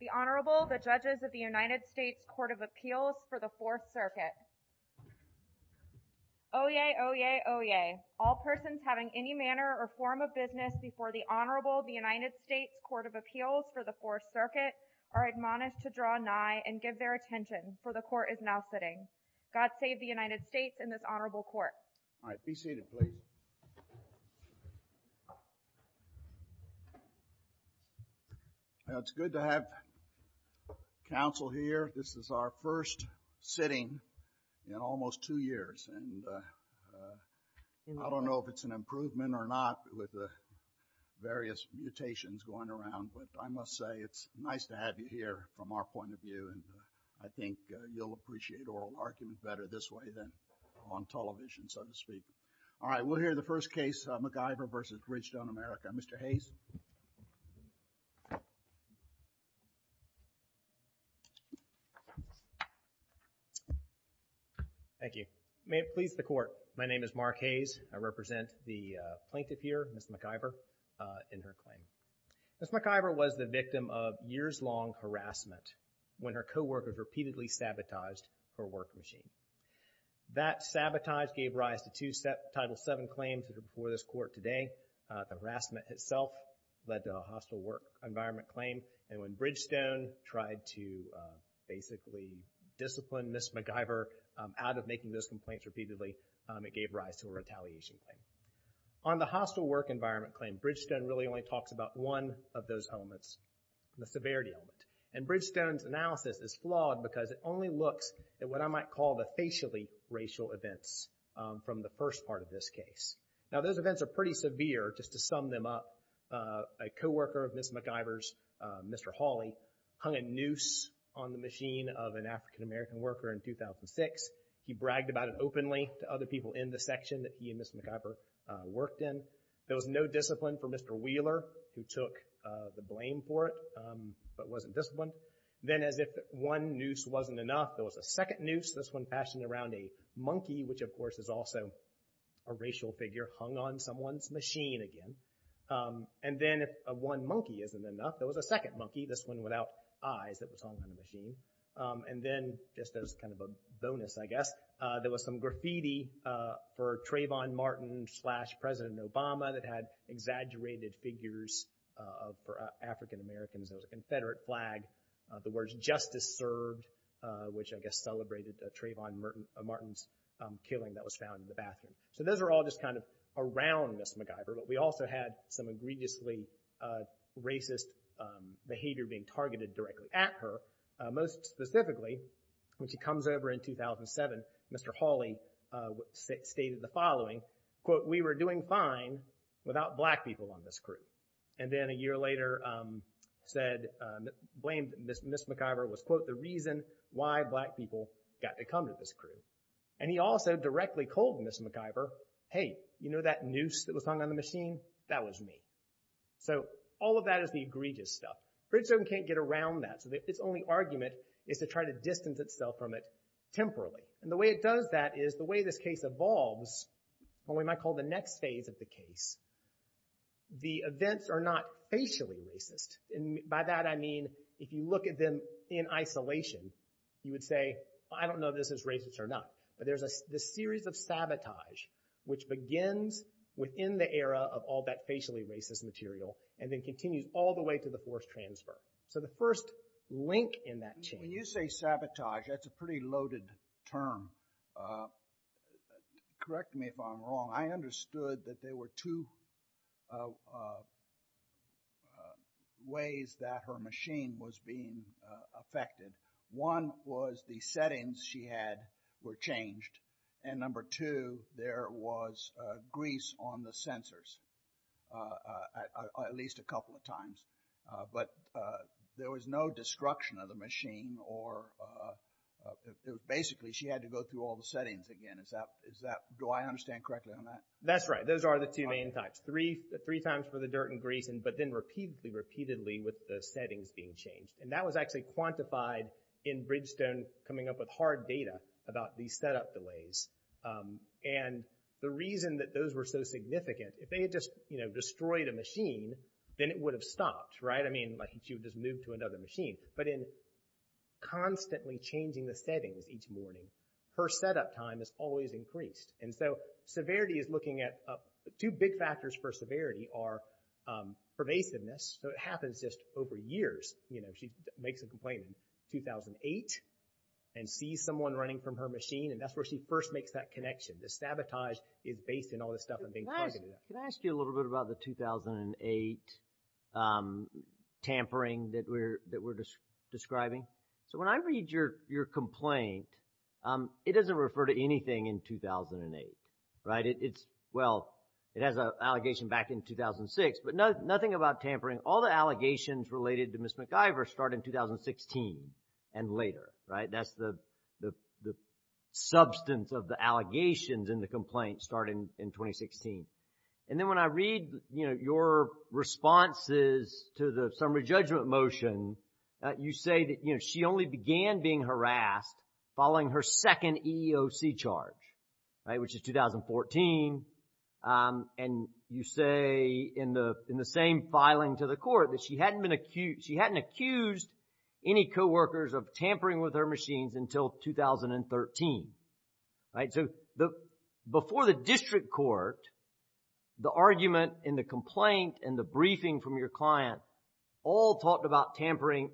The Honorable, the Judges of the United States Court of Appeals for the Fourth Circuit. Oyez, oyez, oyez. All persons having any manner or form of business before the Honorable of the United States Court of Appeals for the Fourth Circuit are admonished to draw nigh and give their attention, for the Court is now sitting. God save the United States and this Honorable Court. All right, be seated, please. It's good to have counsel here. This is our first sitting in almost two years, and I don't know if it's an improvement or not with the various mutations going around, but I must say it's nice to have you here from our point of view, and I think you'll appreciate oral argument better this way than on television, so to speak. All right, we'll hear the first case, McIver v. Bridgestone America. Mr. Hayes. Thank you. May it please the Court, my name is Mark Hayes. I represent the plaintiff here, Ms. McIver, in her claim. Ms. McIver was the victim of years-long harassment when her co-workers repeatedly sabotaged her work machine. That sabotage gave rise to two Title VII claims before this Court today. The harassment itself led to a hostile work environment claim, and when Bridgestone tried to basically discipline Ms. McIver out of making those complaints repeatedly, it gave rise to a retaliation claim. On the hostile work environment claim, Bridgestone really only talks about one of those elements, the severity of it, and Bridgestone's analysis is flawed because it only looks at what I might call the facially racial events from the first part of this case. Now, those events are pretty severe, just to sum them up. A co-worker of Ms. McIver's, Mr. Hawley, hung a noose on the machine of an African-American worker in 2006. He bragged about it openly to other people in the section that he and Ms. McIver worked in. There was no discipline for Mr. Wheeler, who took the blame for it, but wasn't disciplined. Then, as if one noose wasn't enough, there was a second noose, this one fashioned around a monkey, which of course is also a racial figure, hung on someone's machine again. And then, if one monkey isn't enough, there was a second monkey, this one without eyes that was hung on the machine. And then, just as kind of a bonus, I guess, there was some graffiti for Trayvon Martin slash President Obama that had exaggerated figures of African-Americans. There was a Confederate flag, the words Justice Served, which I guess celebrated Trayvon Martin's killing that was found in the bathroom. So, those are all just kind of around Ms. McIver, but we also had some egregiously racist behavior being targeted directly at her. Most specifically, when she comes over in 2007, Mr. Hawley stated the following, quote, we were doing fine without black people on this crew. And then, a year later, said, blamed Ms. McIver was, quote, the reason why black people got to come to this crew. And he also directly told Ms. McIver, hey, you know that noose that was hung on the machine? That was me. So, all of that is the egregious stuff. Bridgestone can't get around that, so its only argument is to try to distance itself from it temporarily. And the way it does that is the way this case evolves, what we might call the next phase of the case, the events are not facially racist. And by that, I mean, if you look at them in isolation, you would say, I don't know if this is racist or not. But there's this series of sabotage which begins within the era of all that facially racist material and then continues all the way to the forced transfer. So, the first link in that chain. When you say sabotage, that's a pretty loaded term. Correct me if I'm wrong, I understood that there were two ways that her machine was being affected. One was the settings she had were changed. And number two, there was grease on the sensors at least a couple of times. But there was no destruction of the machine. Basically, she had to go through all the settings again. Do I understand correctly on that? That's right. Those are the two main types. Three times for the dirt and grease, but then repeatedly, repeatedly with the settings being changed. And that was actually quantified in Bridgestone coming up with hard data about these setup delays. And the reason that those were so significant, if they had just destroyed a machine, then it would have stopped. Right? I mean, she would just move to another machine. But in constantly changing the settings each morning, her setup time is always increased. And so, severity is looking at, two big factors for severity are pervasiveness, so it happens just over years. She makes a complaint in 2008 and sees someone running from her machine and that's where she first makes that connection. The sabotage is based in all this stuff and being targeted. Can I ask you a little bit about the 2008 tampering that we're describing? So when I read your complaint, it doesn't refer to anything in 2008. Right? It's, well, it has an allegation back in 2006, but nothing about tampering. All the allegations related to Ms. McIver start in 2016 and later. Right? That's the substance of the allegations in the complaint starting in 2016. And then when I read, you know, your responses to the summary judgment motion, you say that, you know, she only began being harassed following her second EEOC charge. Right? Which is 2014. And you say in the same filing to the court that she hadn't been accused, she hadn't accused any coworkers of tampering with her machines until 2013. Right? So before the district court, the argument in the complaint and the briefing from your client all talked about tampering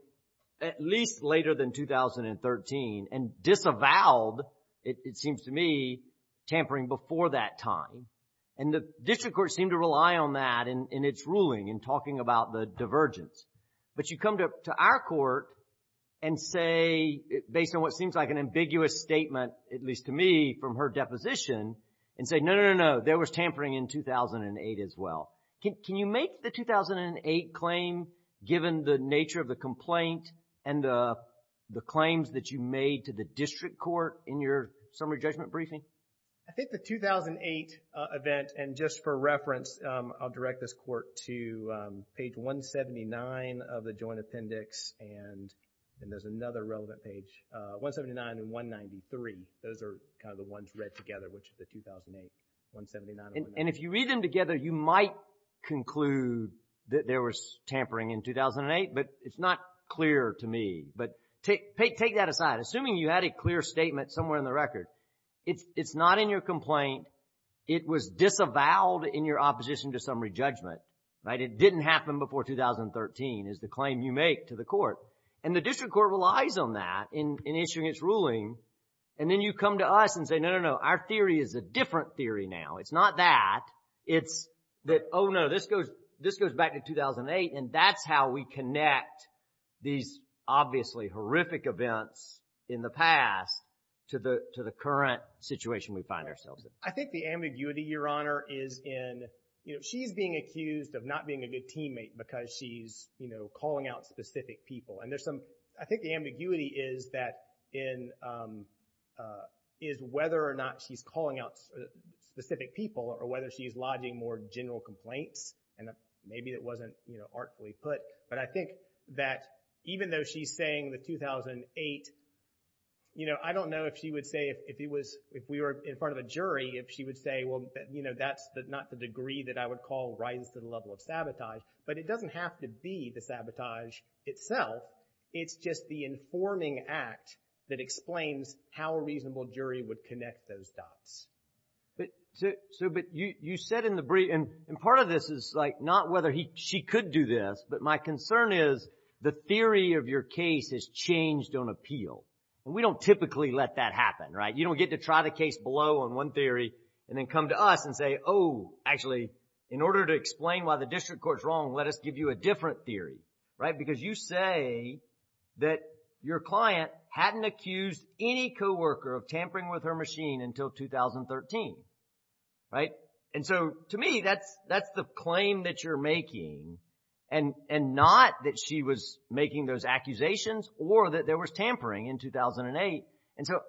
at least later than 2013 and disavowed, it seems to me, tampering before that time. And the district court seemed to rely on that in its ruling in talking about the divergence. But you come to our court and say, based on what seems like an ambiguous statement, at least to me, from her deposition, and say, no, no, no, no. There was tampering in 2008 as well. Can you make the 2008 claim given the nature of the complaint and the claims that you made to the district court in your summary judgment briefing? I think the 2008 event, and just for reference, I'll direct this court to page 179 of the Joint Appendix, and then there's another relevant page, 179 and 193. Those are kind of the ones read together, which is the 2008, 179 and 193. And if you read them together, you might conclude that there was tampering in 2008, but it's not clear to me. But take that aside. Assuming you had a clear statement somewhere in the record, it's not in your complaint. It was disavowed in your opposition to summary judgment. Right? It didn't happen before 2013 is the claim you make to the court. And the district court relies on that in issuing its ruling. And then you come to us and say, no, no, no. Our theory is a different theory now. It's not that. It's that, oh, no. This goes back to 2008, and that's how we connect these obviously horrific events in the past to the current situation we find ourselves in. I think the ambiguity, Your Honor, is in, you know, she's being accused of not being a good teammate because she's, you know, calling out specific people. And there's some, I think the ambiguity is that in, is whether or not she's calling out specific people or whether she's lodging more general complaints. And maybe it wasn't, you know, artfully put. But I think that even though she's saying the 2008, you know, I don't know if she would say if it was, if we were in front of a jury, if she would say, well, you know, that's not the degree that I would call rises to the level of sabotage. But it doesn't have to be the sabotage itself. It's just the informing act that explains how a reasonable jury would connect those dots. So, but you said in the brief, and part of this is like not whether she could do this, but my concern is the theory of your case has changed on appeal. And we don't typically let that happen, right? You don't get to try the case below on one theory and then come to us and say, oh, actually, in order to explain why the district court's wrong, let us give you a different theory, right? Because you say that your client hadn't accused any coworker of tampering with her machine until 2013, right? And so, to me, that's the claim that you're making and not that she was making those accusations or that there was tampering in 2008. And so,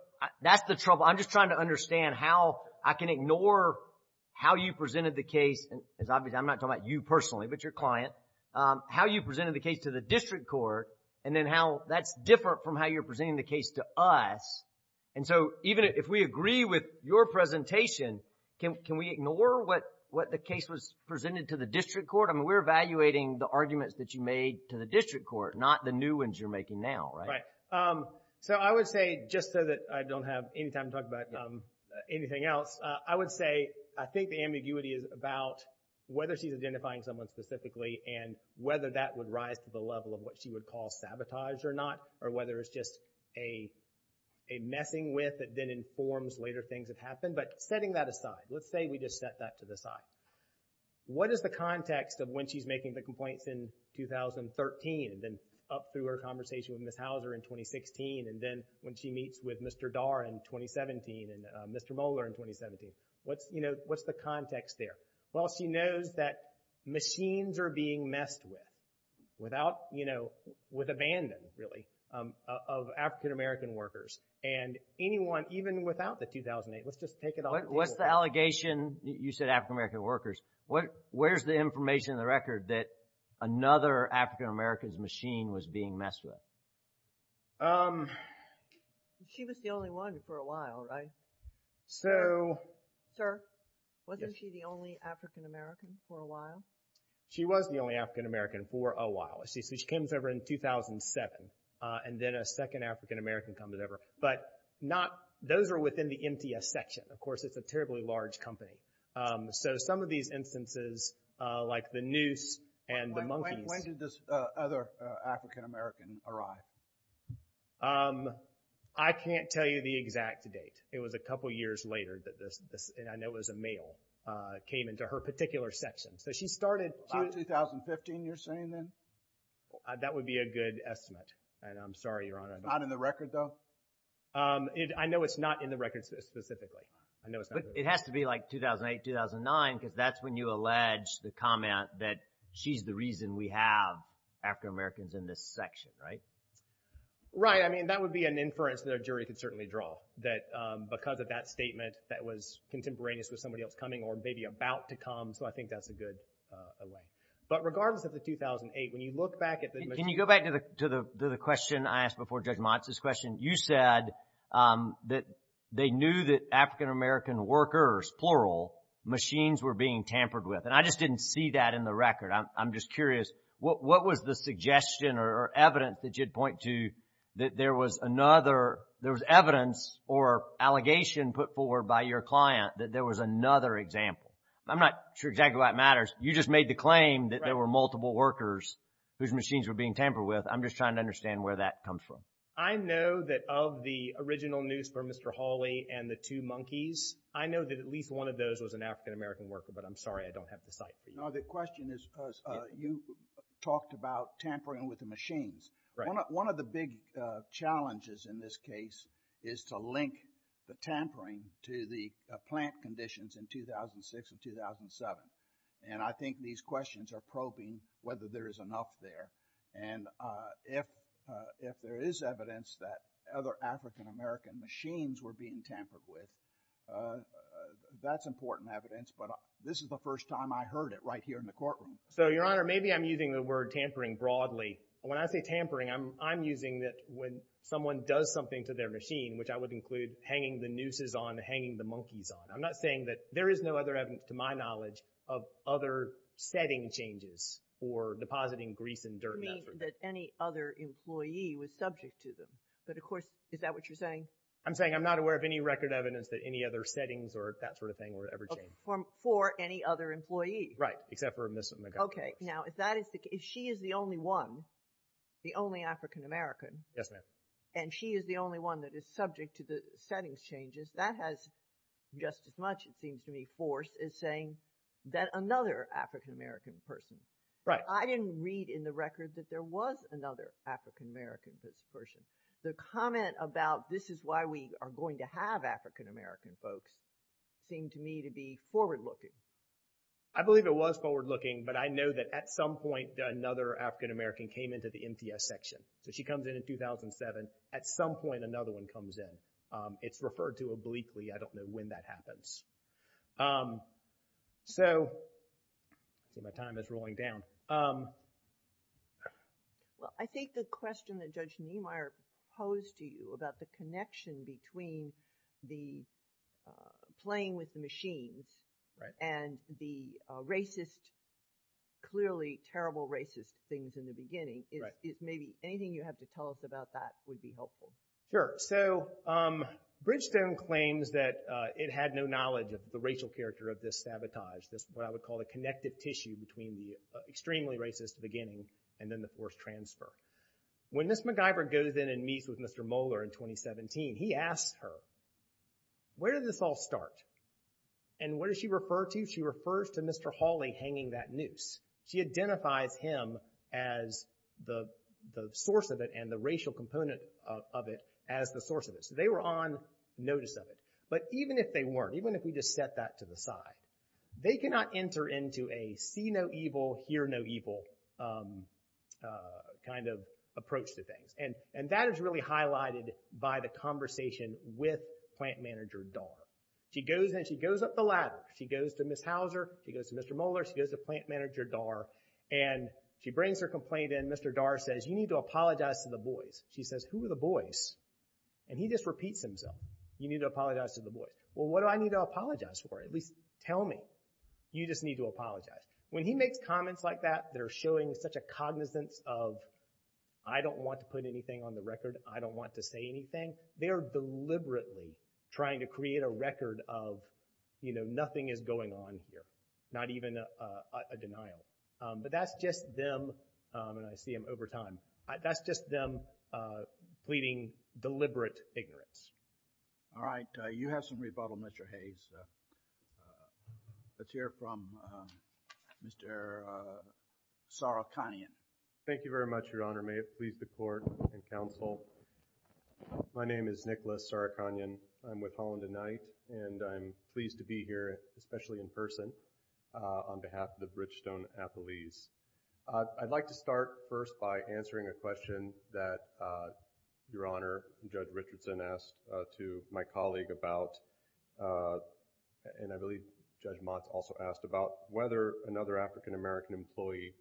that's the trouble. So, I'm just trying to understand how I can ignore how you presented the case. And obviously, I'm not talking about you personally, but your client. How you presented the case to the district court and then how that's different from how you're presenting the case to us. And so, even if we agree with your presentation, can we ignore what the case was presented to the district court? I mean, we're evaluating the arguments that you made to the district court, not the new ones you're making now, right? So, I would say, just so that I don't have any time to talk about anything else, I would say I think the ambiguity is about whether she's identifying someone specifically and whether that would rise to the level of what she would call sabotage or not, or whether it's just a messing with that then informs later things that happen. But setting that aside, let's say we just set that to the side. What is the context of when she's making the complaints in 2013 and then up through her conversation with Ms. Hauser in 2016 and then when she meets with Mr. Dar in 2017 and Mr. Mohler in 2017? What's, you know, what's the context there? Well, she knows that machines are being messed with without, you know, with abandon, really, of African American workers. And anyone, even without the 2008, let's just take it off the table. What's the allegation, you said African American workers, where's the information in the record that another African American's machine was being messed with? She was the only one for a while, right? So... Sir? Yes. Wasn't she the only African American for a while? She was the only African American for a while. She came over in 2007 and then a second African American comes over. But not, those are within the MTS section. Of course, it's a terribly large company. So some of these instances, like the noose and the monkeys... When did this other African American arrive? I can't tell you the exact date. It was a couple years later that this, and I know it was a male, came into her particular section. So she started... About 2015, you're saying then? That would be a good estimate. And I'm sorry, Your Honor. Not in the record, though? I know it's not in the record specifically. I know it's not in the record. It has to be like 2008, 2009, because that's when you allege the comment that she's the reason we have African Americans in this section, right? Right. I mean, that would be an inference that a jury could certainly draw, that because of that statement, that was contemporaneous with somebody else coming or maybe about to come. So I think that's a good allay. But regardless of the 2008, when you look back at the machine... workers, plural, machines were being tampered with. And I just didn't see that in the record. I'm just curious, what was the suggestion or evidence that you'd point to that there was evidence or allegation put forward by your client that there was another example? I'm not sure exactly why it matters. You just made the claim that there were multiple workers whose machines were being tampered with. I'm just trying to understand where that comes from. I know that of the original noose for Mr. Hawley and the two monkeys, I know that at least one of those was an African American worker, but I'm sorry, I don't have the site for you. No, the question is, you talked about tampering with the machines. One of the big challenges in this case is to link the tampering to the plant conditions in 2006 and 2007. And I think these questions are probing whether there is enough there. And if there is evidence that other African American machines were being tampered with, that's important evidence. But this is the first time I heard it right here in the courtroom. So, Your Honor, maybe I'm using the word tampering broadly. When I say tampering, I'm using that when someone does something to their machine, which I would include hanging the nooses on, hanging the monkeys on. I'm not saying that there is no other evidence to my knowledge of other setting changes for depositing grease and dirt. You mean that any other employee was subject to them? But of course, is that what you're saying? I'm saying I'm not aware of any record evidence that any other settings or that sort of thing were ever changed. For any other employee? Right, except for Ms. McGovern. Okay. Now, if she is the only one, the only African American. Yes, ma'am. And she is the only one that is subject to the settings changes, that has just as much, it seems to me, force as saying that another African American person. Right. I didn't read in the record that there was another African American person. The comment about this is why we are going to have African American folks seemed to me to be forward looking. I believe it was forward looking, but I know that at some point another African American came into the MTS section. So, she comes in in 2007. At some point, another one comes in. It's referred to obliquely. I don't know when that happens. So, my time is rolling down. Well, I think the question that Judge Niemeyer posed to you about the connection between the playing with the machines and the racist, clearly terrible racist things in the beginning. Anything you have to tell us about that would be helpful. Sure. So, Bridgestone claims that it had no knowledge of the racial character of this sabotage, this what I would call a connected tissue between the extremely racist beginning and then the forced transfer. When Ms. MacGyver goes in and meets with Mr. Moeller in 2017, he asks her, where did this all start? And what does she refer to? She refers to Mr. Hawley hanging that noose. She identifies him as the source of it and the racial component of it as the source of it. So, they were on notice of it. But even if they weren't, even if we just set that to the side, they cannot enter into a see no evil, hear no evil kind of approach to things. And that is really highlighted by the conversation with plant manager Dar. She goes and she goes up the ladder. She goes to Ms. Hauser, she goes to Mr. Moeller, she goes to plant manager Dar, and she brings her complaint in. Mr. Dar says, you need to apologize to the boys. She says, who are the boys? And he just repeats himself. You need to apologize to the boys. Well, what do I need to apologize for? At least tell me. You just need to apologize. When he makes comments like that that are showing such a cognizance of I don't want to put anything on the record, I don't want to say anything, they are deliberately trying to create a record of, you know, nothing is going on here. Not even a denial. But that's just them, and I see them over time, that's just them pleading deliberate ignorance. All right. You have some rebuttal, Mr. Hayes. Let's hear from Mr. Sorokonian. Thank you very much, Your Honor. May it please the Court and counsel, my name is Nicholas Sorokonian. I'm with Holland and Knight, and I'm pleased to be here, especially in person, on behalf of the Bridgestone Appellees. I'd like to start first by answering a question that Your Honor, Judge Richardson asked to my colleague about, and I believe Judge Motz also asked about, whether another African-American employee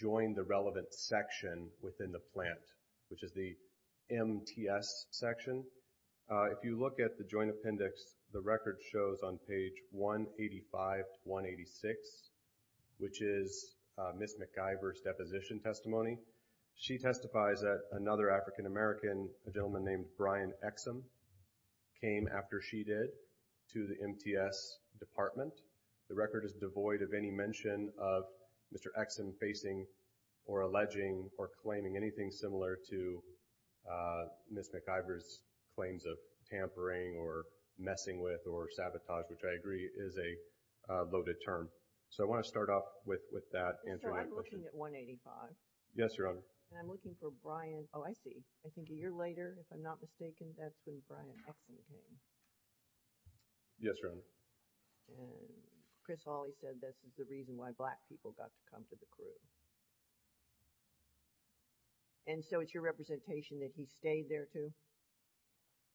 joined the relevant section within the plant, which is the MTS section. If you look at the joint appendix, the record shows on page 185 to 186, which is Ms. McIver's deposition testimony. She testifies that another African-American, a gentleman named Brian Exum, came after she did to the MTS department. The record is devoid of any mention of Mr. Exum facing or alleging or claiming anything similar to Ms. McIver's claims of tampering or messing with or sabotage, which I agree is a loaded term. So I want to start off with that answer. So I'm looking at 185. Yes, Your Honor. And I'm looking for Brian, oh, I see. I think a year later, if I'm not mistaken, that's when Brian Exum came. Yes, Your Honor. And Chris Hawley said this is the reason why black people got to come to the crew. And so it's your representation that he stayed there too?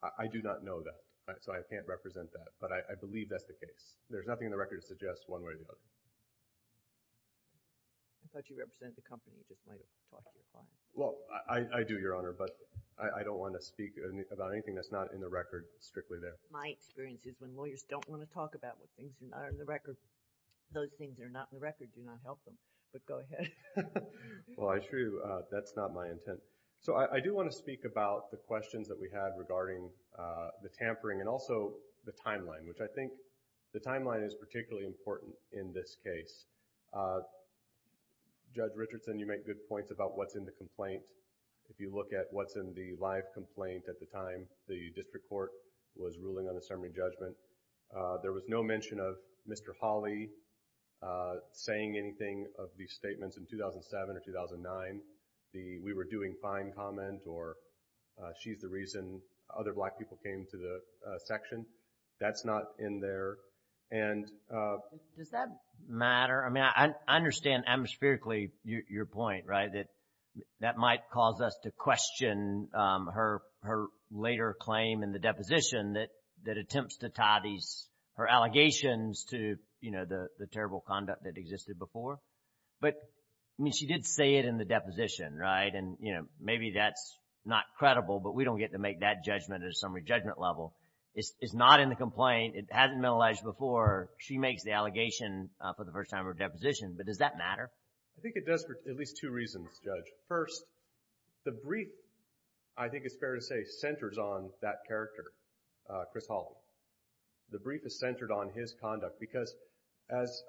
I do not know that, so I can't represent that, but I believe that's the case. There's nothing in the record that suggests one way or the other. I thought you represented the company. You just might have talked to the client. Well, I do, Your Honor, but I don't want to speak about anything that's not in the record strictly there. My experience is when lawyers don't want to talk about what things are not in the record, those things that are not in the record do not help them. But go ahead. Well, I assure you that's not my intent. So I do want to speak about the questions that we had regarding the tampering and also the timeline, which I think the timeline is particularly important in this case. Judge Richardson, you make good points about what's in the complaint. If you look at what's in the live complaint at the time the district court was ruling on a summary judgment, there was no mention of Mr. Hawley saying anything of these statements in 2007 or 2009. We were doing fine comment or she's the reason other black people came to the section. That's not in there. Does that matter? I mean, I understand, atmospherically, your point, right, that that might cause us to question her later claim in the deposition that attempts to tie her allegations to the terrible conduct that existed before. But, I mean, she did say it in the deposition, right? And, you know, maybe that's not credible, but we don't get to make that judgment at a summary judgment level. It's not in the complaint. It hasn't been alleged before. She makes the allegation for the first time in her deposition. But does that matter? I think it does for at least two reasons, Judge. First, the brief, I think it's fair to say, centers on that character, Chris Hawley. The brief is centered on his conduct because, as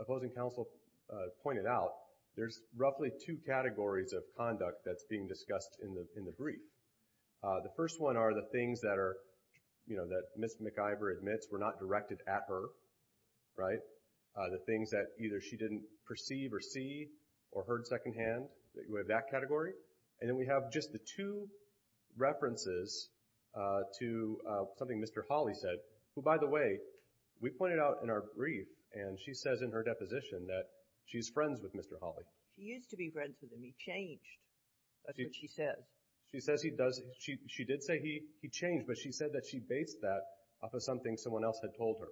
opposing counsel pointed out, there's roughly two categories of conduct that's being discussed in the brief. The first one are the things that are, you know, that Ms. McIvor admits were not directed at her, right? The things that either she didn't perceive or see or heard secondhand, we have that category. And then we have just the two references to something Mr. Hawley said, who, by the way, we pointed out in our brief, and she says in her deposition that she's friends with Mr. Hawley. She used to be friends with him. He changed. That's what she says. She says he does. She did say he changed, but she said that she based that off of something someone else had told her,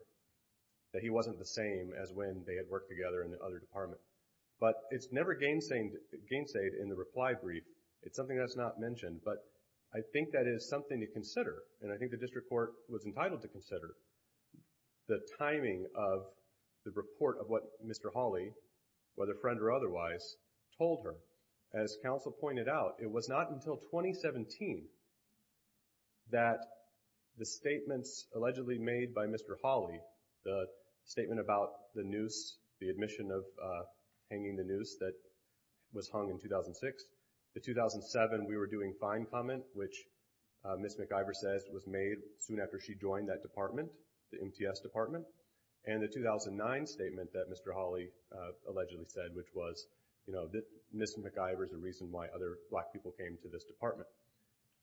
that he wasn't the same as when they had worked together in the other department. But it's never gainsayed in the reply brief. It's something that's not mentioned, but I think that is something to consider, and I think the district court was entitled to consider the timing of the report of what Mr. Hawley, whether friend or otherwise, told her. As counsel pointed out, it was not until 2017 that the statements allegedly made by Mr. Hawley, the statement about the noose, the admission of hanging the noose that was hung in 2006, the 2007 we were doing fine comment, which Ms. McIver says was made soon after she joined that department, the MTS department, and the 2009 statement that Mr. Hawley allegedly said, which was Ms. McIver is the reason why other black people came to this department.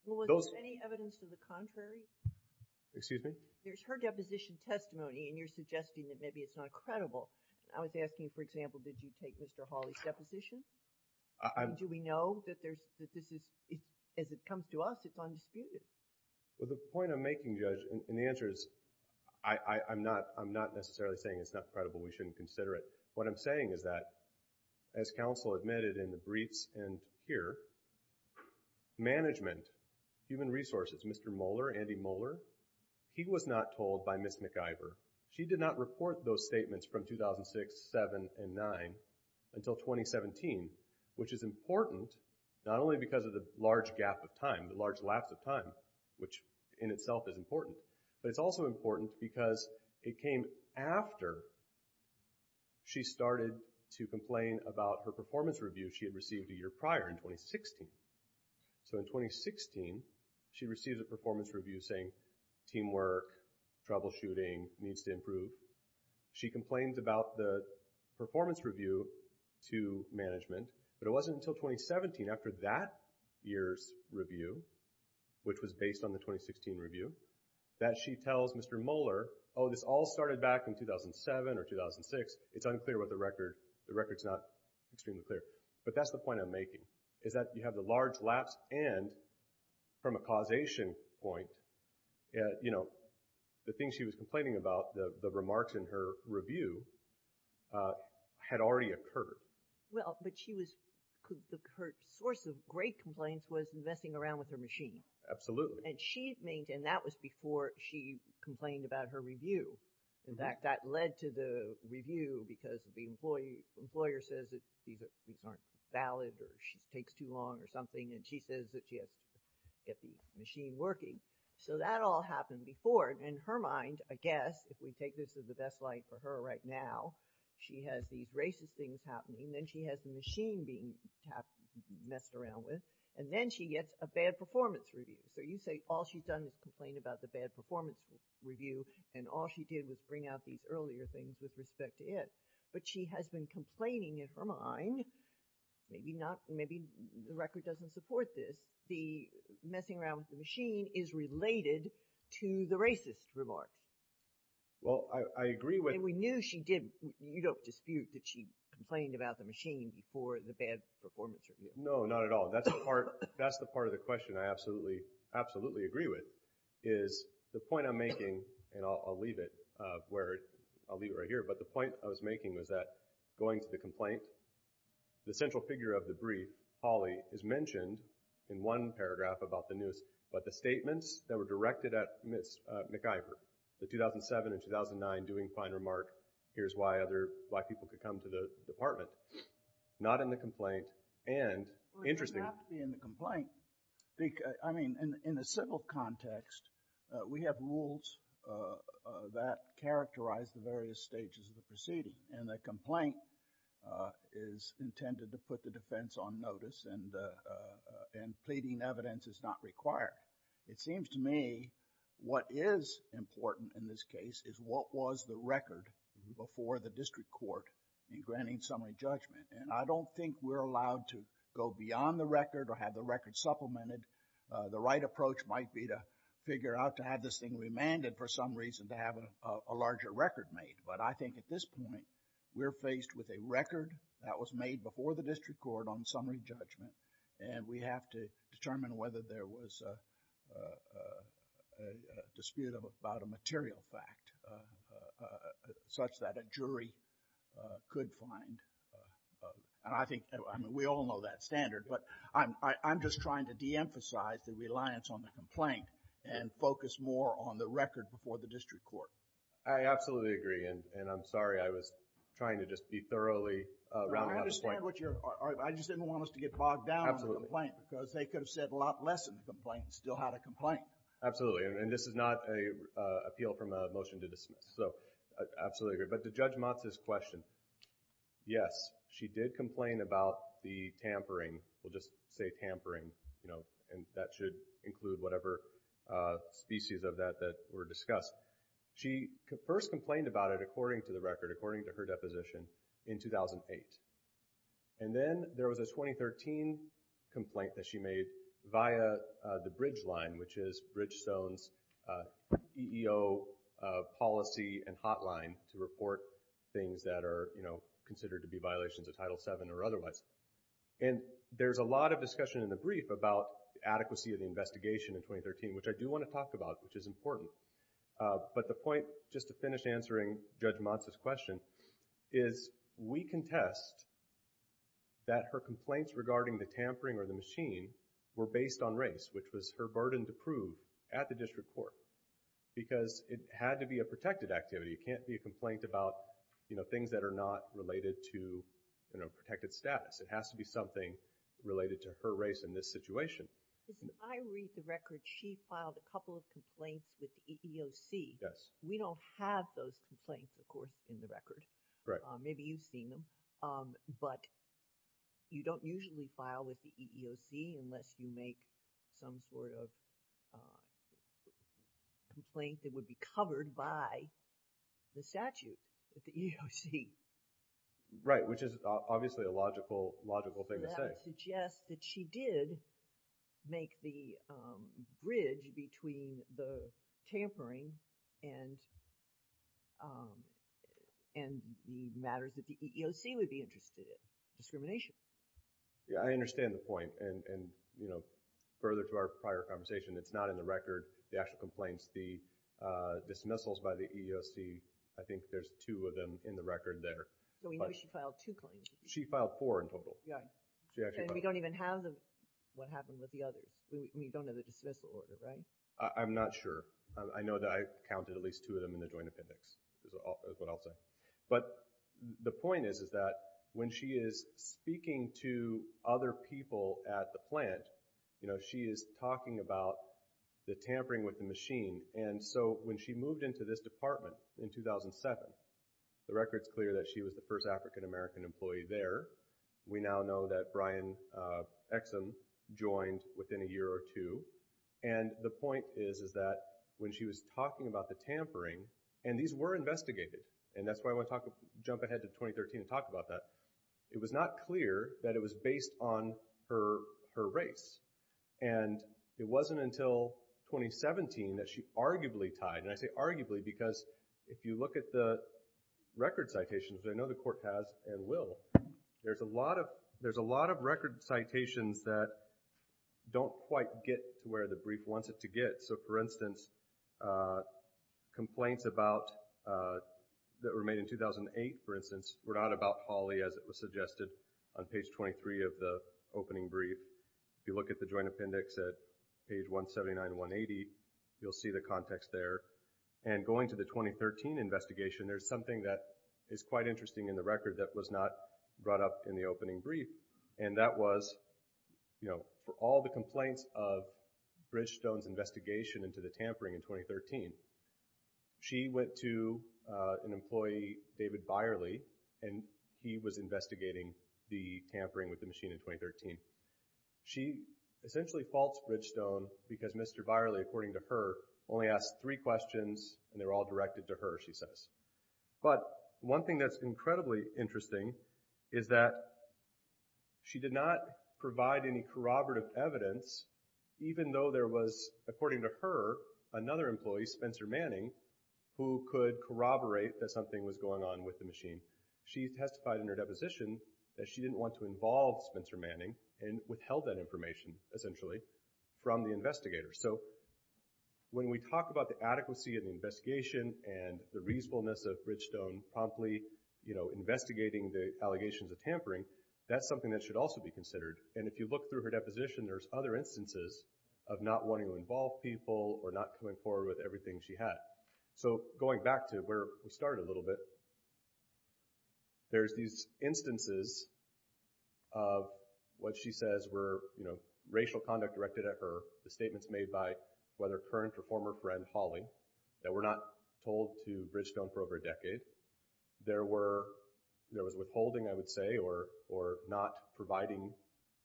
Well, was there any evidence to the contrary? Excuse me? There's her deposition testimony, and you're suggesting that maybe it's not credible. I was asking, for example, did you take Mr. Hawley's deposition? Do we know that this is, as it comes to us, it's undisputed? Well, the point I'm making, Judge, and the answer is I'm not necessarily saying it's not credible. We shouldn't consider it. What I'm saying is that, as counsel admitted in the briefs and here, management, human resources, Mr. Mohler, Andy Mohler, he was not told by Ms. McIver. She did not report those statements from 2006, 2007, and 2009 until 2017, which is important not only because of the large gap of time, the large lapse of time, which in itself is important, but it's also important because it came after she started to complain about her performance review she had received a year prior in 2016. So in 2016, she received a performance review saying teamwork, troubleshooting, needs to improve. She complained about the performance review to management, but it wasn't until 2017, after that year's review, which was based on the 2016 review, that she tells Mr. Mohler, oh, this all started back in 2007 or 2006. It's unclear what the record, the record's not extremely clear. But that's the point I'm making, is that you have the large lapse and, from a causation point, the things she was complaining about, the remarks in her review, had already occurred. Well, but she was – her source of great complaints was messing around with her machine. Absolutely. And she made – and that was before she complained about her review. In fact, that led to the review because the employer says that these aren't valid or she takes too long or something, and she says that she has to get the machine working. So that all happened before. And in her mind, I guess, if we take this as the best light for her right now, she has these racist things happening, then she has the machine being messed around with, and then she gets a bad performance review. So you say all she's done is complain about the bad performance review, and all she did was bring out these earlier things with respect to it. But she has been complaining in her mind, maybe not – maybe the record doesn't support this, the messing around with the machine is related to the racist remark. Well, I agree with – And we knew she did. You don't dispute that she complained about the machine before the bad performance review. No, not at all. That's the part – that's the part of the question. I absolutely, absolutely agree with is the point I'm making, and I'll leave it where – I'll leave it right here, but the point I was making was that going to the complaint, the central figure of the brief, Holly, is mentioned in one paragraph about the news, but the statements that were directed at Ms. McIver, the 2007 and 2009 doing fine remark, here's why other black people could come to the department, not in the complaint, and interesting. It doesn't have to be in the complaint. I mean, in the civil context, we have rules that characterize the various stages of the proceeding, and the complaint is intended to put the defense on notice, and pleading evidence is not required. It seems to me what is important in this case is what was the record before the district court in granting summary judgment, and I don't think we're allowed to go beyond the record or have the record supplemented. The right approach might be to figure out to have this thing remanded for some reason to have a larger record made, but I think at this point, we're faced with a record that was made before the district court on summary judgment, and we have to determine whether there was a dispute about a material fact such that a jury could find, and I think we all know that standard, but I'm just trying to deemphasize the reliance on the complaint and focus more on the record before the district court. I absolutely agree, and I'm sorry I was trying to just be thoroughly round out the point. I understand what you're, I just didn't want us to get bogged down in the complaint because they could have said a lot less of the complaint and still had a complaint. Absolutely, and this is not an appeal from a motion to dismiss, so I absolutely agree. But to Judge Motz's question, yes, she did complain about the tampering. We'll just say tampering, and that should include whatever species of that were discussed. She first complained about it according to the record, according to her deposition, in 2008, and then there was a 2013 complaint that she made via the bridge line, which is Bridgestone's EEO policy and hotline to report things that are, you know, considered to be violations of Title VII or otherwise, and there's a lot of discussion in the brief about adequacy of the investigation in 2013, which I do want to talk about, which is important, but the point, just to finish answering Judge Motz's question, is we contest that her complaints regarding the tampering or the machine were based on race, which was her burden to prove at the district court, because it had to be a protected activity. It can't be a complaint about, you know, things that are not related to, you know, protected status. It has to be something related to her race in this situation. Because if I read the record, she filed a couple of complaints with the EEOC. We don't have those complaints, of course, in the record. Maybe you've seen them, but you don't usually file with the EEOC unless you make some sort of complaint that would be covered by the statute with the EEOC. Right, which is obviously a logical thing to say. I would suggest that she did make the bridge between the tampering and the matters that the EEOC would be interested in, discrimination. Yeah, I understand the point, and, you know, further to our prior conversation, it's not in the record, the actual complaints, the dismissals by the EEOC. I think there's two of them in the record there. No, we know she filed two complaints. She filed four in total. And we don't even have what happened with the others. We don't have the dismissal order, right? I'm not sure. I know that I counted at least two of them in the joint appendix, is what I'll say. But the point is that when she is speaking to other people at the plant, you know, she is talking about the tampering with the machine. And so when she moved into this department in 2007, the record's clear that she was the first African-American employee there. We now know that Brian Exum joined within a year or two. And the point is that when she was talking about the tampering, and these were investigated, and that's why I want to jump ahead to 2013 and talk about that, it was not clear that it was based on her race. And it wasn't until 2017 that she arguably tied. And I say arguably because if you look at the record citations, which I know the court has and will, there's a lot of record citations that don't quite get to where the brief wants it to get. So, for instance, complaints that were made in 2008, for instance, were not about Holly as it was suggested on page 23 of the opening brief. If you look at the joint appendix at page 179 and 180, you'll see the context there. And going to the 2013 investigation, there's something that is quite interesting in the record that was not brought up in the opening brief, and that was, you know, for all the complaints of Bridgestone's investigation into the tampering in 2013, she went to an employee, David Byerly, and he was investigating the tampering with the machine in 2013. She essentially faults Bridgestone because Mr. Byerly, according to her, only asked three questions, and they were all directed to her, she says. But one thing that's incredibly interesting is that she did not provide any corroborative evidence, even though there was, according to her, another employee, Spencer Manning, who could corroborate that something was going on with the machine. She testified in her deposition that she didn't want to involve Spencer Manning and withheld that information, essentially, from the investigators. So, when we talk about the adequacy of the investigation and the reasonableness of Bridgestone promptly, you know, investigating the allegations of tampering, that's something that should also be considered. And if you look through her deposition, there's other instances of not wanting to involve people or not coming forward with everything she had. So, going back to where we started a little bit, there's these instances of what she says were, you know, racial conduct directed at her, the statements made by, whether current or former friend, Holly, that were not told to Bridgestone for over a decade. There was withholding, I would say, or not providing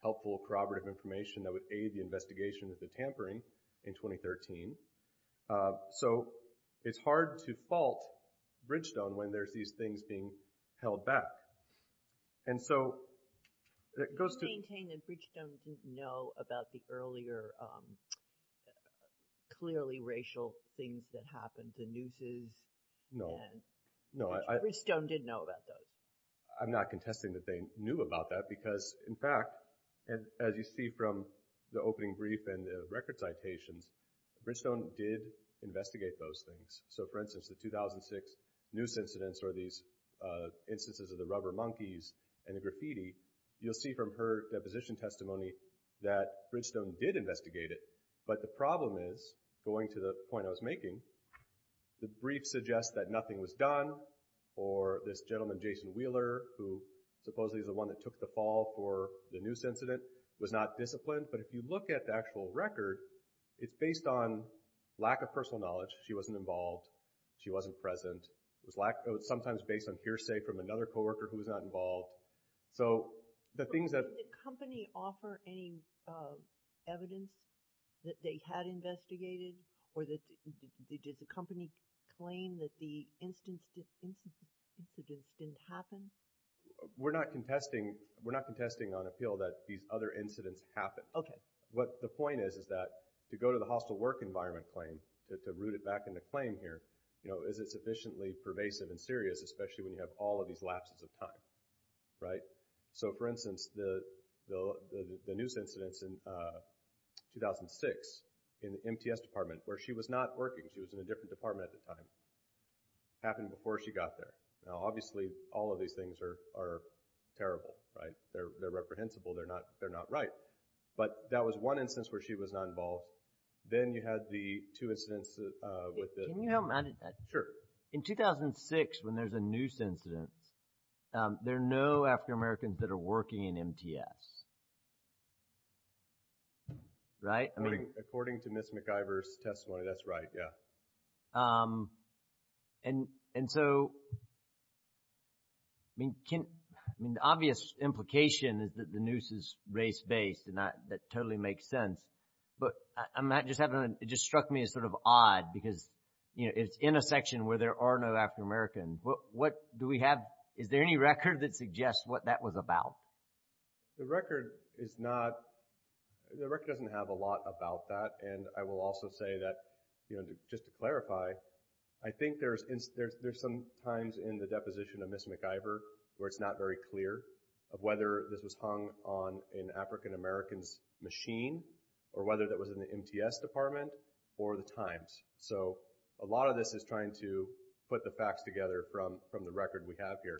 helpful corroborative information that would aid the investigation of the tampering in 2013. So, it's hard to fault Bridgestone when there's these things being held back. And so, it goes to— Bridgestone did know about those. I'm not contesting that they knew about that because, in fact, as you see from the opening brief and the record citations, Bridgestone did investigate those things. So, for instance, the 2006 noose incidents or these instances of the rubber monkeys and the graffiti, you'll see from her deposition testimony that Bridgestone did investigate it. But the problem is, going to the point I was making, the brief suggests that nothing was done or this gentleman, Jason Wheeler, who supposedly is the one that took the fall for the noose incident, was not disciplined. But if you look at the actual record, it's based on lack of personal knowledge. She wasn't involved. She wasn't present. It was sometimes based on hearsay from another coworker who was not involved. So, the things that— Did the company claim that the incidents didn't happen? We're not contesting on appeal that these other incidents happened. Okay. What the point is is that to go to the hostile work environment claim, to root it back into claim here, is it sufficiently pervasive and serious, especially when you have all of these lapses of time? Right? So, for instance, the noose incidents in 2006 in the MTS department, where she was not working. She was in a different department at the time. It happened before she got there. Now, obviously, all of these things are terrible, right? They're reprehensible. They're not right. But that was one instance where she was not involved. Then you had the two incidents with the— Can you help me? Sure. In 2006, when there's a noose incident, there are no African Americans that are working in MTS. Right? According to Ms. McIver's testimony, that's right, yeah. And so, I mean, the obvious implication is that the noose is race-based, and that totally makes sense. But I'm not just having—it just struck me as sort of odd because, you know, it's in a section where there are no African Americans. What do we have—is there any record that suggests what that was about? The record is not—the record doesn't have a lot about that. And I will also say that, you know, just to clarify, I think there's some times in the deposition of Ms. McIver where it's not very clear of whether this was hung on an African American's machine or whether that was in the MTS department or the Times. So, a lot of this is trying to put the facts together from the record we have here.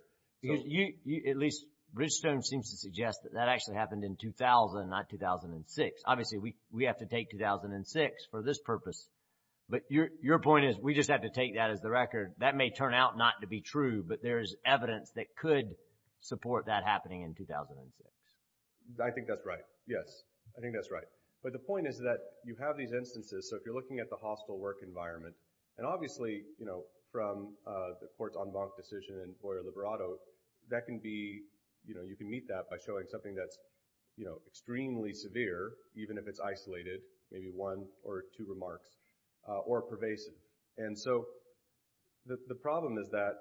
At least Bridgestone seems to suggest that that actually happened in 2000, not 2006. Obviously, we have to take 2006 for this purpose. But your point is we just have to take that as the record. That may turn out not to be true, but there is evidence that could support that happening in 2006. I think that's right, yes. I think that's right. But the point is that you have these instances. So, if you're looking at the hospital work environment, and obviously from the court's en banc decision in Boyer-Liberato, that can be—you can meet that by showing something that's extremely severe, even if it's isolated, maybe one or two remarks, or pervasive. And so, the problem is that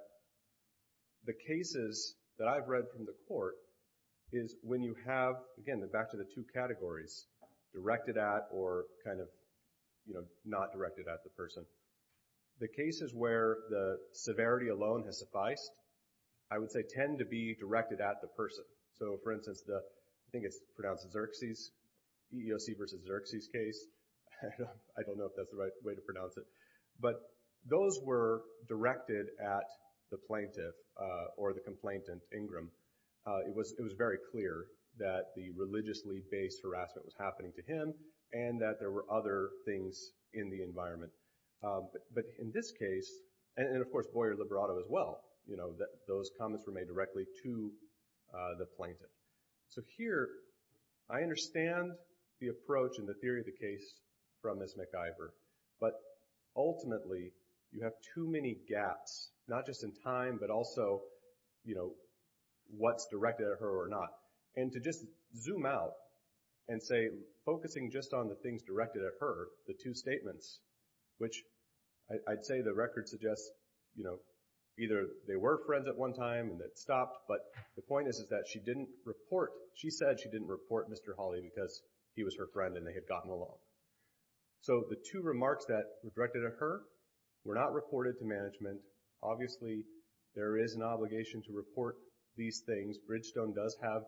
the cases that I've read from the court is when you have, again, back to the two categories, it's directed at or kind of not directed at the person. The cases where the severity alone has sufficed, I would say, tend to be directed at the person. So, for instance, I think it's pronounced Xerxes, EEOC versus Xerxes case. I don't know if that's the right way to pronounce it. But those were directed at the plaintiff or the complainant, Ingram. It was very clear that the religiously-based harassment was happening to him and that there were other things in the environment. But in this case—and, of course, Boyer-Liberato as well— those comments were made directly to the plaintiff. So, here, I understand the approach and the theory of the case from Ms. MacIver. But, ultimately, you have too many gaps, not just in time, but also what's directed at her or not. And to just zoom out and say, focusing just on the things directed at her, the two statements, which I'd say the record suggests either they were friends at one time and it stopped, but the point is that she said she didn't report Mr. Hawley because he was her friend and they had gotten along. So, the two remarks that were directed at her were not reported to management. Obviously, there is an obligation to report these things. Bridgestone does have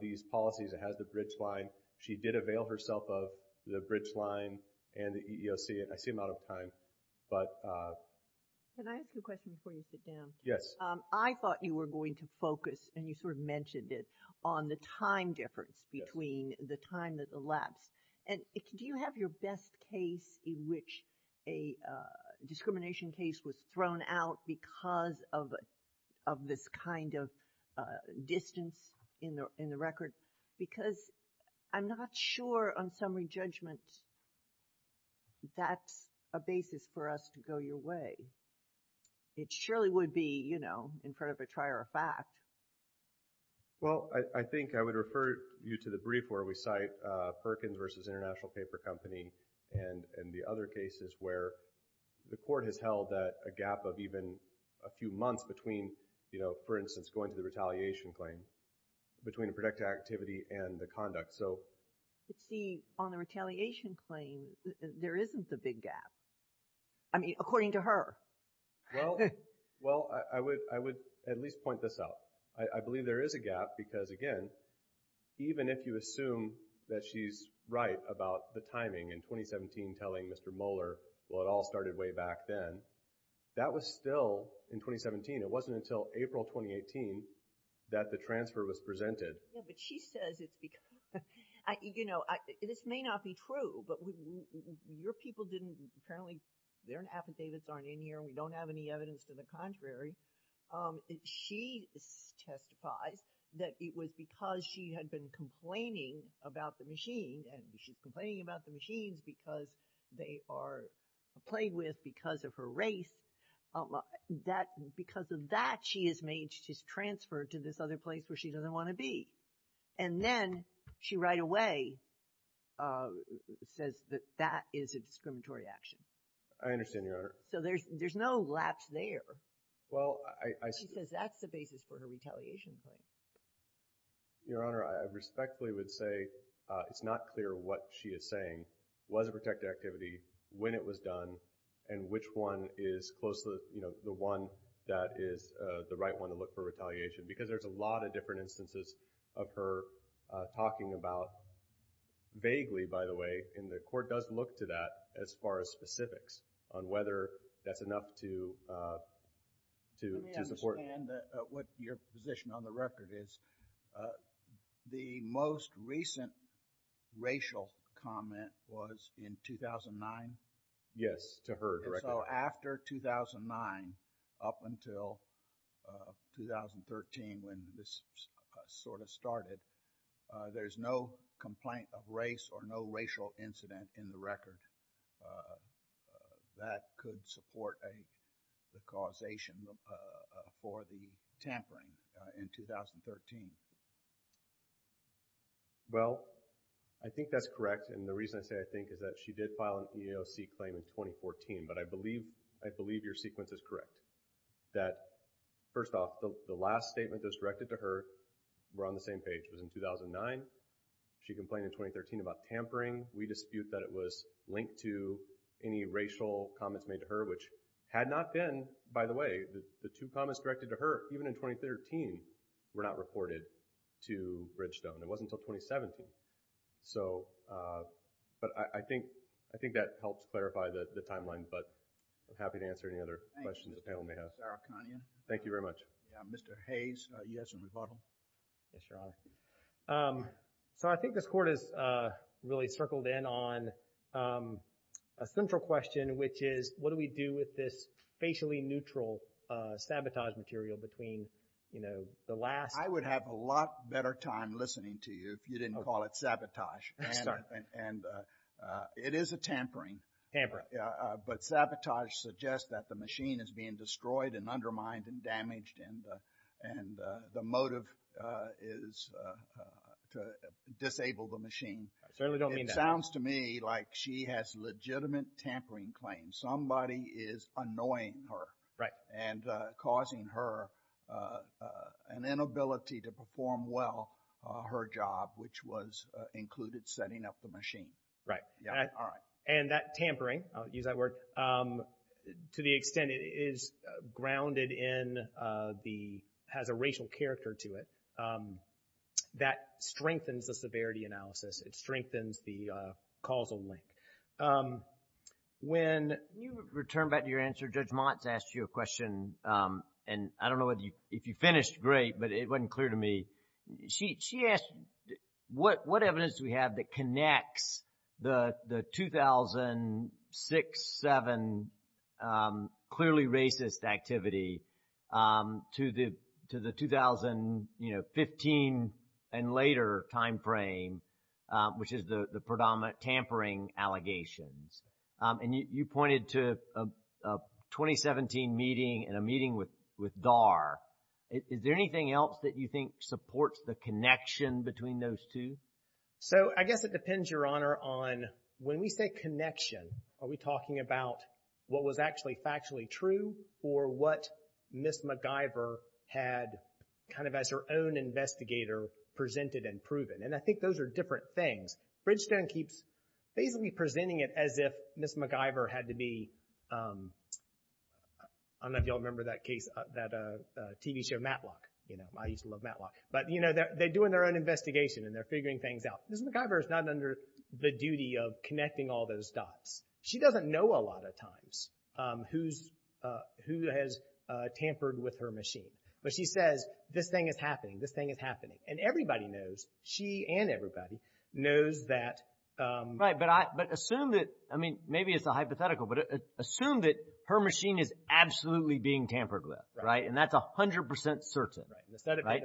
these policies. It has the bridge line. She did avail herself of the bridge line and the EEOC. I seem out of time, but— Can I ask you a question before you sit down? Yes. I thought you were going to focus, and you sort of mentioned it, on the time difference between the time that elapsed. And do you have your best case in which a discrimination case was thrown out because of this kind of distance in the record? Because I'm not sure on summary judgment that's a basis for us to go your way. It surely would be, you know, in front of a trier of fact. Well, I think I would refer you to the brief where we cite Perkins versus International Paper Company and the other cases where the court has held that a gap of even a few months between, you know, for instance, going to the retaliation claim, between a protected activity and the conduct. But see, on the retaliation claim, there isn't the big gap. I mean, according to her. Well, I would at least point this out. I believe there is a gap because, again, even if you assume that she's right about the timing in 2017 telling Mr. Moeller, well, it all started way back then, that was still in 2017. It wasn't until April 2018 that the transfer was presented. Yeah, but she says it's because—you know, this may not be true, but your people didn't—apparently their affidavits aren't in here and we don't have any evidence to the contrary. She testifies that it was because she had been complaining about the machine and she's complaining about the machines because they are played with because of her race. Because of that, she is made—she's transferred to this other place where she doesn't want to be. And then she right away says that that is a discriminatory action. I understand, Your Honor. So there's no lapse there. Well, I— She says that's the basis for her retaliation claim. Your Honor, I respectfully would say it's not clear what she is saying was a protected activity, when it was done, and which one is close to the one that is the right one to look for retaliation because there's a lot of different instances of her talking about— vaguely, by the way, and the Court does look to that as far as specifics on whether that's enough to support— Let me understand what your position on the record is. The most recent racial comment was in 2009? Yes, to her record. So after 2009, up until 2013 when this sort of started, there's no complaint of race or no racial incident in the record. That could support the causation for the tampering in 2013. Well, I think that's correct, and the reason I say I think is that she did file an EEOC claim in 2014, but I believe your sequence is correct. First off, the last statement that was directed to her— we're on the same page—was in 2009. She complained in 2013 about tampering. We dispute that it was linked to any racial comments made to her, which had not been, by the way, the two comments directed to her, even in 2013, were not reported to Bridgestone. It wasn't until 2017. But I think that helps clarify the timeline, but I'm happy to answer any other questions the panel may have. Thank you. Thank you very much. Mr. Hayes, yes, in rebuttal. Yes, Your Honor. So I think this Court has really circled in on a central question, which is what do we do with this facially neutral sabotage material between the last— I would have a lot better time listening to you if you didn't call it sabotage. Sorry. And it is a tampering. Tampering. But sabotage suggests that the machine is being destroyed and undermined and damaged, and the motive is to disable the machine. I certainly don't mean that. It sounds to me like she has legitimate tampering claims. Somebody is annoying her. Right. And causing her an inability to perform well her job, which was included setting up the machine. Right. All right. And that tampering, I'll use that word, to the extent it is grounded in the—has a racial character to it, that strengthens the severity analysis. It strengthens the causal link. When you return back to your answer, Judge Montz asked you a question, and I don't know if you finished great, but it wasn't clear to me. She asked what evidence do we have that connects the 2006-2007 clearly racist activity to the 2015 and later time frame, which is the predominant tampering allegations. And you pointed to a 2017 meeting and a meeting with Dahr. Is there anything else that you think supports the connection between those two? So, I guess it depends, Your Honor, on when we say connection, are we talking about what was actually factually true or what Ms. MacGyver had kind of as her own investigator presented and proven? And I think those are different things. Bridgestone keeps basically presenting it as if Ms. MacGyver had to be— I don't know if you all remember that case, that TV show, Matlock. I used to love Matlock. But, you know, they're doing their own investigation, and they're figuring things out. Ms. MacGyver is not under the duty of connecting all those dots. She doesn't know a lot of times who has tampered with her machine. But she says, this thing is happening, this thing is happening. And everybody knows, she and everybody, knows that— Right. But assume that, I mean, maybe it's a hypothetical, but assume that her machine is absolutely being tampered with, right? And that's 100% certain. Right.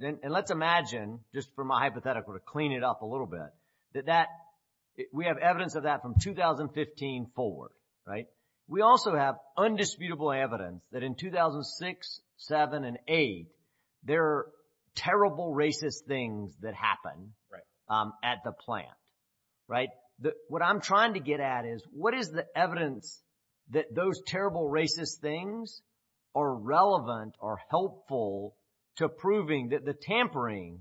And let's imagine, just from a hypothetical to clean it up a little bit, that we have evidence of that from 2015 forward, right? We also have undisputable evidence that in 2006, 2007, and 2008 there are terrible racist things that happen at the plant, right? What I'm trying to get at is, what is the evidence that those terrible racist things are relevant or helpful to proving that the tampering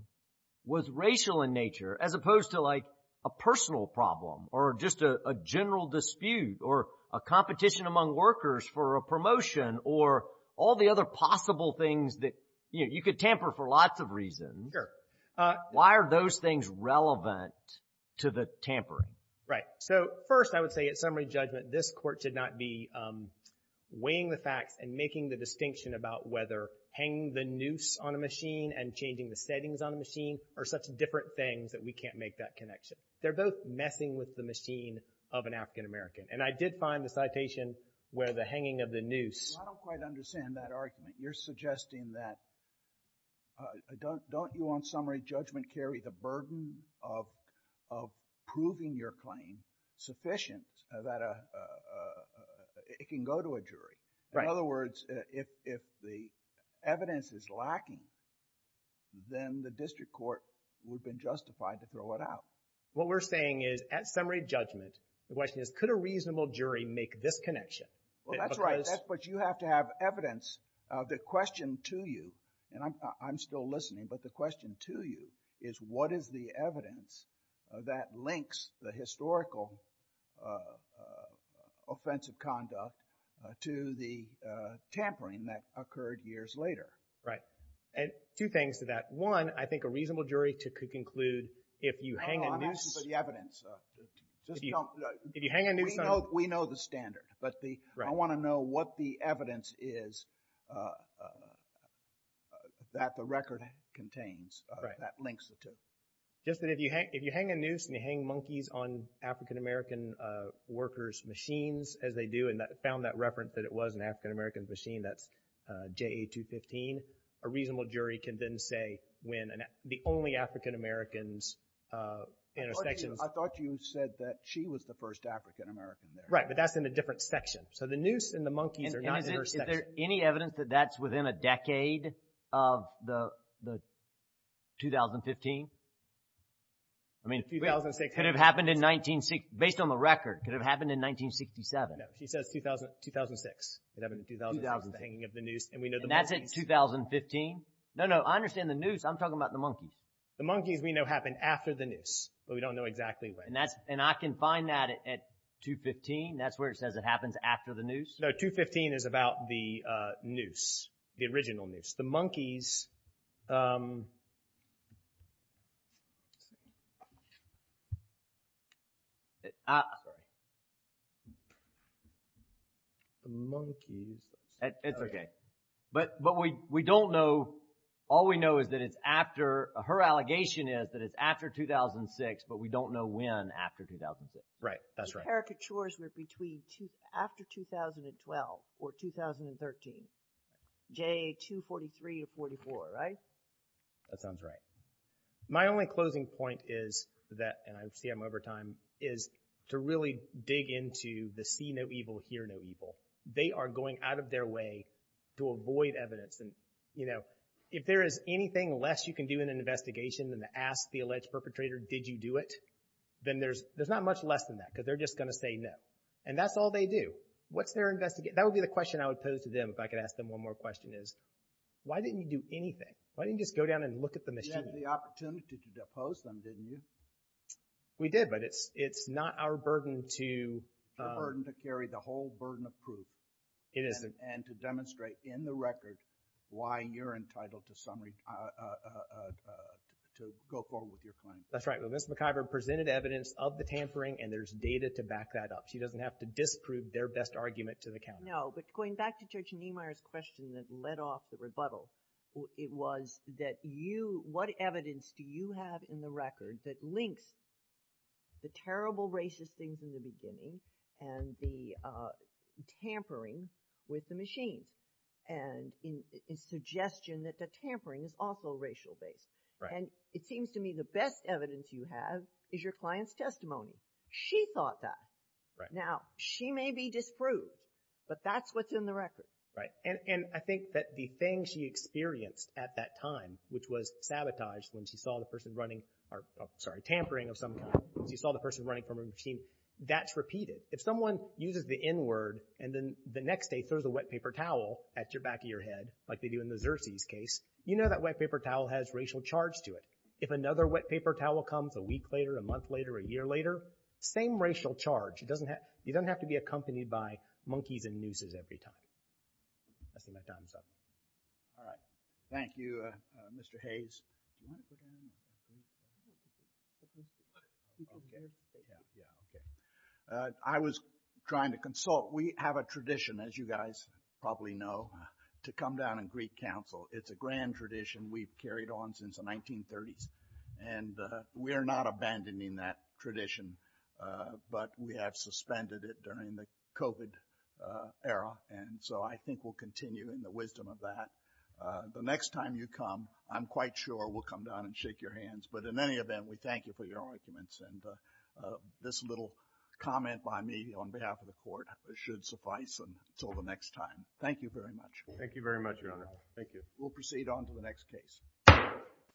was racial in nature, as opposed to, like, a personal problem, or just a general dispute, or a competition among workers for a promotion, or all the other possible things that, you know, you could tamper for lots of reasons. Sure. Why are those things relevant to the tampering? Right. So, first, I would say at summary judgment, this court should not be weighing the facts and making the distinction about whether hanging the noose on a machine and changing the settings on a machine are such different things that we can't make that connection. They're both messing with the machine of an African-American. And I did find the citation where the hanging of the noose. I don't quite understand that argument. You're suggesting that don't you, on summary judgment, carry the burden of proving your claim sufficient that it can go to a jury? In other words, if the evidence is lacking, then the district court would have been justified to throw it out. What we're saying is, at summary judgment, the question is, could a reasonable jury make this connection? Well, that's right. That's what you have to have evidence. The question to you, and I'm still listening, but the question to you is what is the evidence that links the historical offensive conduct to the tampering that occurred years later? Right. And two things to that. One, I think a reasonable jury could conclude if you hang a noose. I'm asking for the evidence. If you hang a noose. We know the standard, but I want to know what the evidence is that the record contains, that links it to. Just that if you hang a noose and you hang monkeys on African-American workers' machines, as they do, and found that reference that it was an African-American machine, that's JA215, a reasonable jury can then say when the only African-Americans intersections. I thought you said that she was the first African-American there. Right, but that's in a different section. So the noose and the monkeys are not in her section. Is there any evidence that that's within a decade of the 2015? I mean, it could have happened in, based on the record, could have happened in 1967. No. She says 2006. It happened in 2006. And that's in 2015? No, no. I understand the noose. I'm talking about the monkeys. The monkeys we know happened after the noose, but we don't know exactly when. And I can find that at 215? That's where it says it happens after the noose? No, 215 is about the noose, the original noose. The monkeys… The monkeys… It's okay. But we don't know, all we know is that it's after, her allegation is that it's after 2006, but we don't know when after 2006. Right, that's right. The caricatures were between after 2012 or 2013. J, 243 or 44, right? That sounds right. My only closing point is that, and I see I'm over time, is to really dig into the see no evil, hear no evil. They are going out of their way to avoid evidence. And, you know, if there is anything less you can do in an investigation than to ask the alleged perpetrator, did you do it? Then there's not much less than that, because they're just going to say no. And that's all they do. What's their investigation? That would be the question I would pose to them if I could ask them one more question is, why didn't you do anything? Why didn't you just go down and look at the machine? You had the opportunity to depose them, didn't you? We did, but it's not our burden to… It isn't. …and to demonstrate in the record why you're entitled to go forward with your claim. That's right. Well, Ms. McIver presented evidence of the tampering, and there's data to back that up. She doesn't have to disprove their best argument to the counter. No, but going back to Judge Niemeyer's question that led off the rebuttal, it was that you, what evidence do you have in the record that links the terrible racist things in the beginning and the tampering with the machines, and in suggestion that the tampering is also racial-based? Right. And it seems to me the best evidence you have is your client's testimony. She thought that. Right. Now, she may be disproved, but that's what's in the record. Right. And I think that the thing she experienced at that time, which was sabotage when she saw the person running, tampering of some kind, she saw the person running from a machine, that's repeated. If someone uses the N-word and then the next day throws a wet paper towel at the back of your head, like they do in the Xerces case, you know that wet paper towel has racial charge to it. If another wet paper towel comes a week later, a month later, a year later, same racial charge. You don't have to be accompanied by monkeys and nooses every time. I see my time's up. All right. Thank you, Mr. Hayes. Do you want to go down? Okay. Yeah, okay. I was trying to consult. We have a tradition, as you guys probably know, to come down and greet counsel. It's a grand tradition we've carried on since the 1930s, and we're not abandoning that tradition, but we have suspended it during the COVID era, and so I think we'll continue in the wisdom of that. The next time you come, I'm quite sure we'll come down and shake your hands, but in any event, we thank you for your arguments, and this little comment by me on behalf of the Court should suffice until the next time. Thank you very much. Thank you very much, Your Honor. Thank you. We'll proceed on to the next case.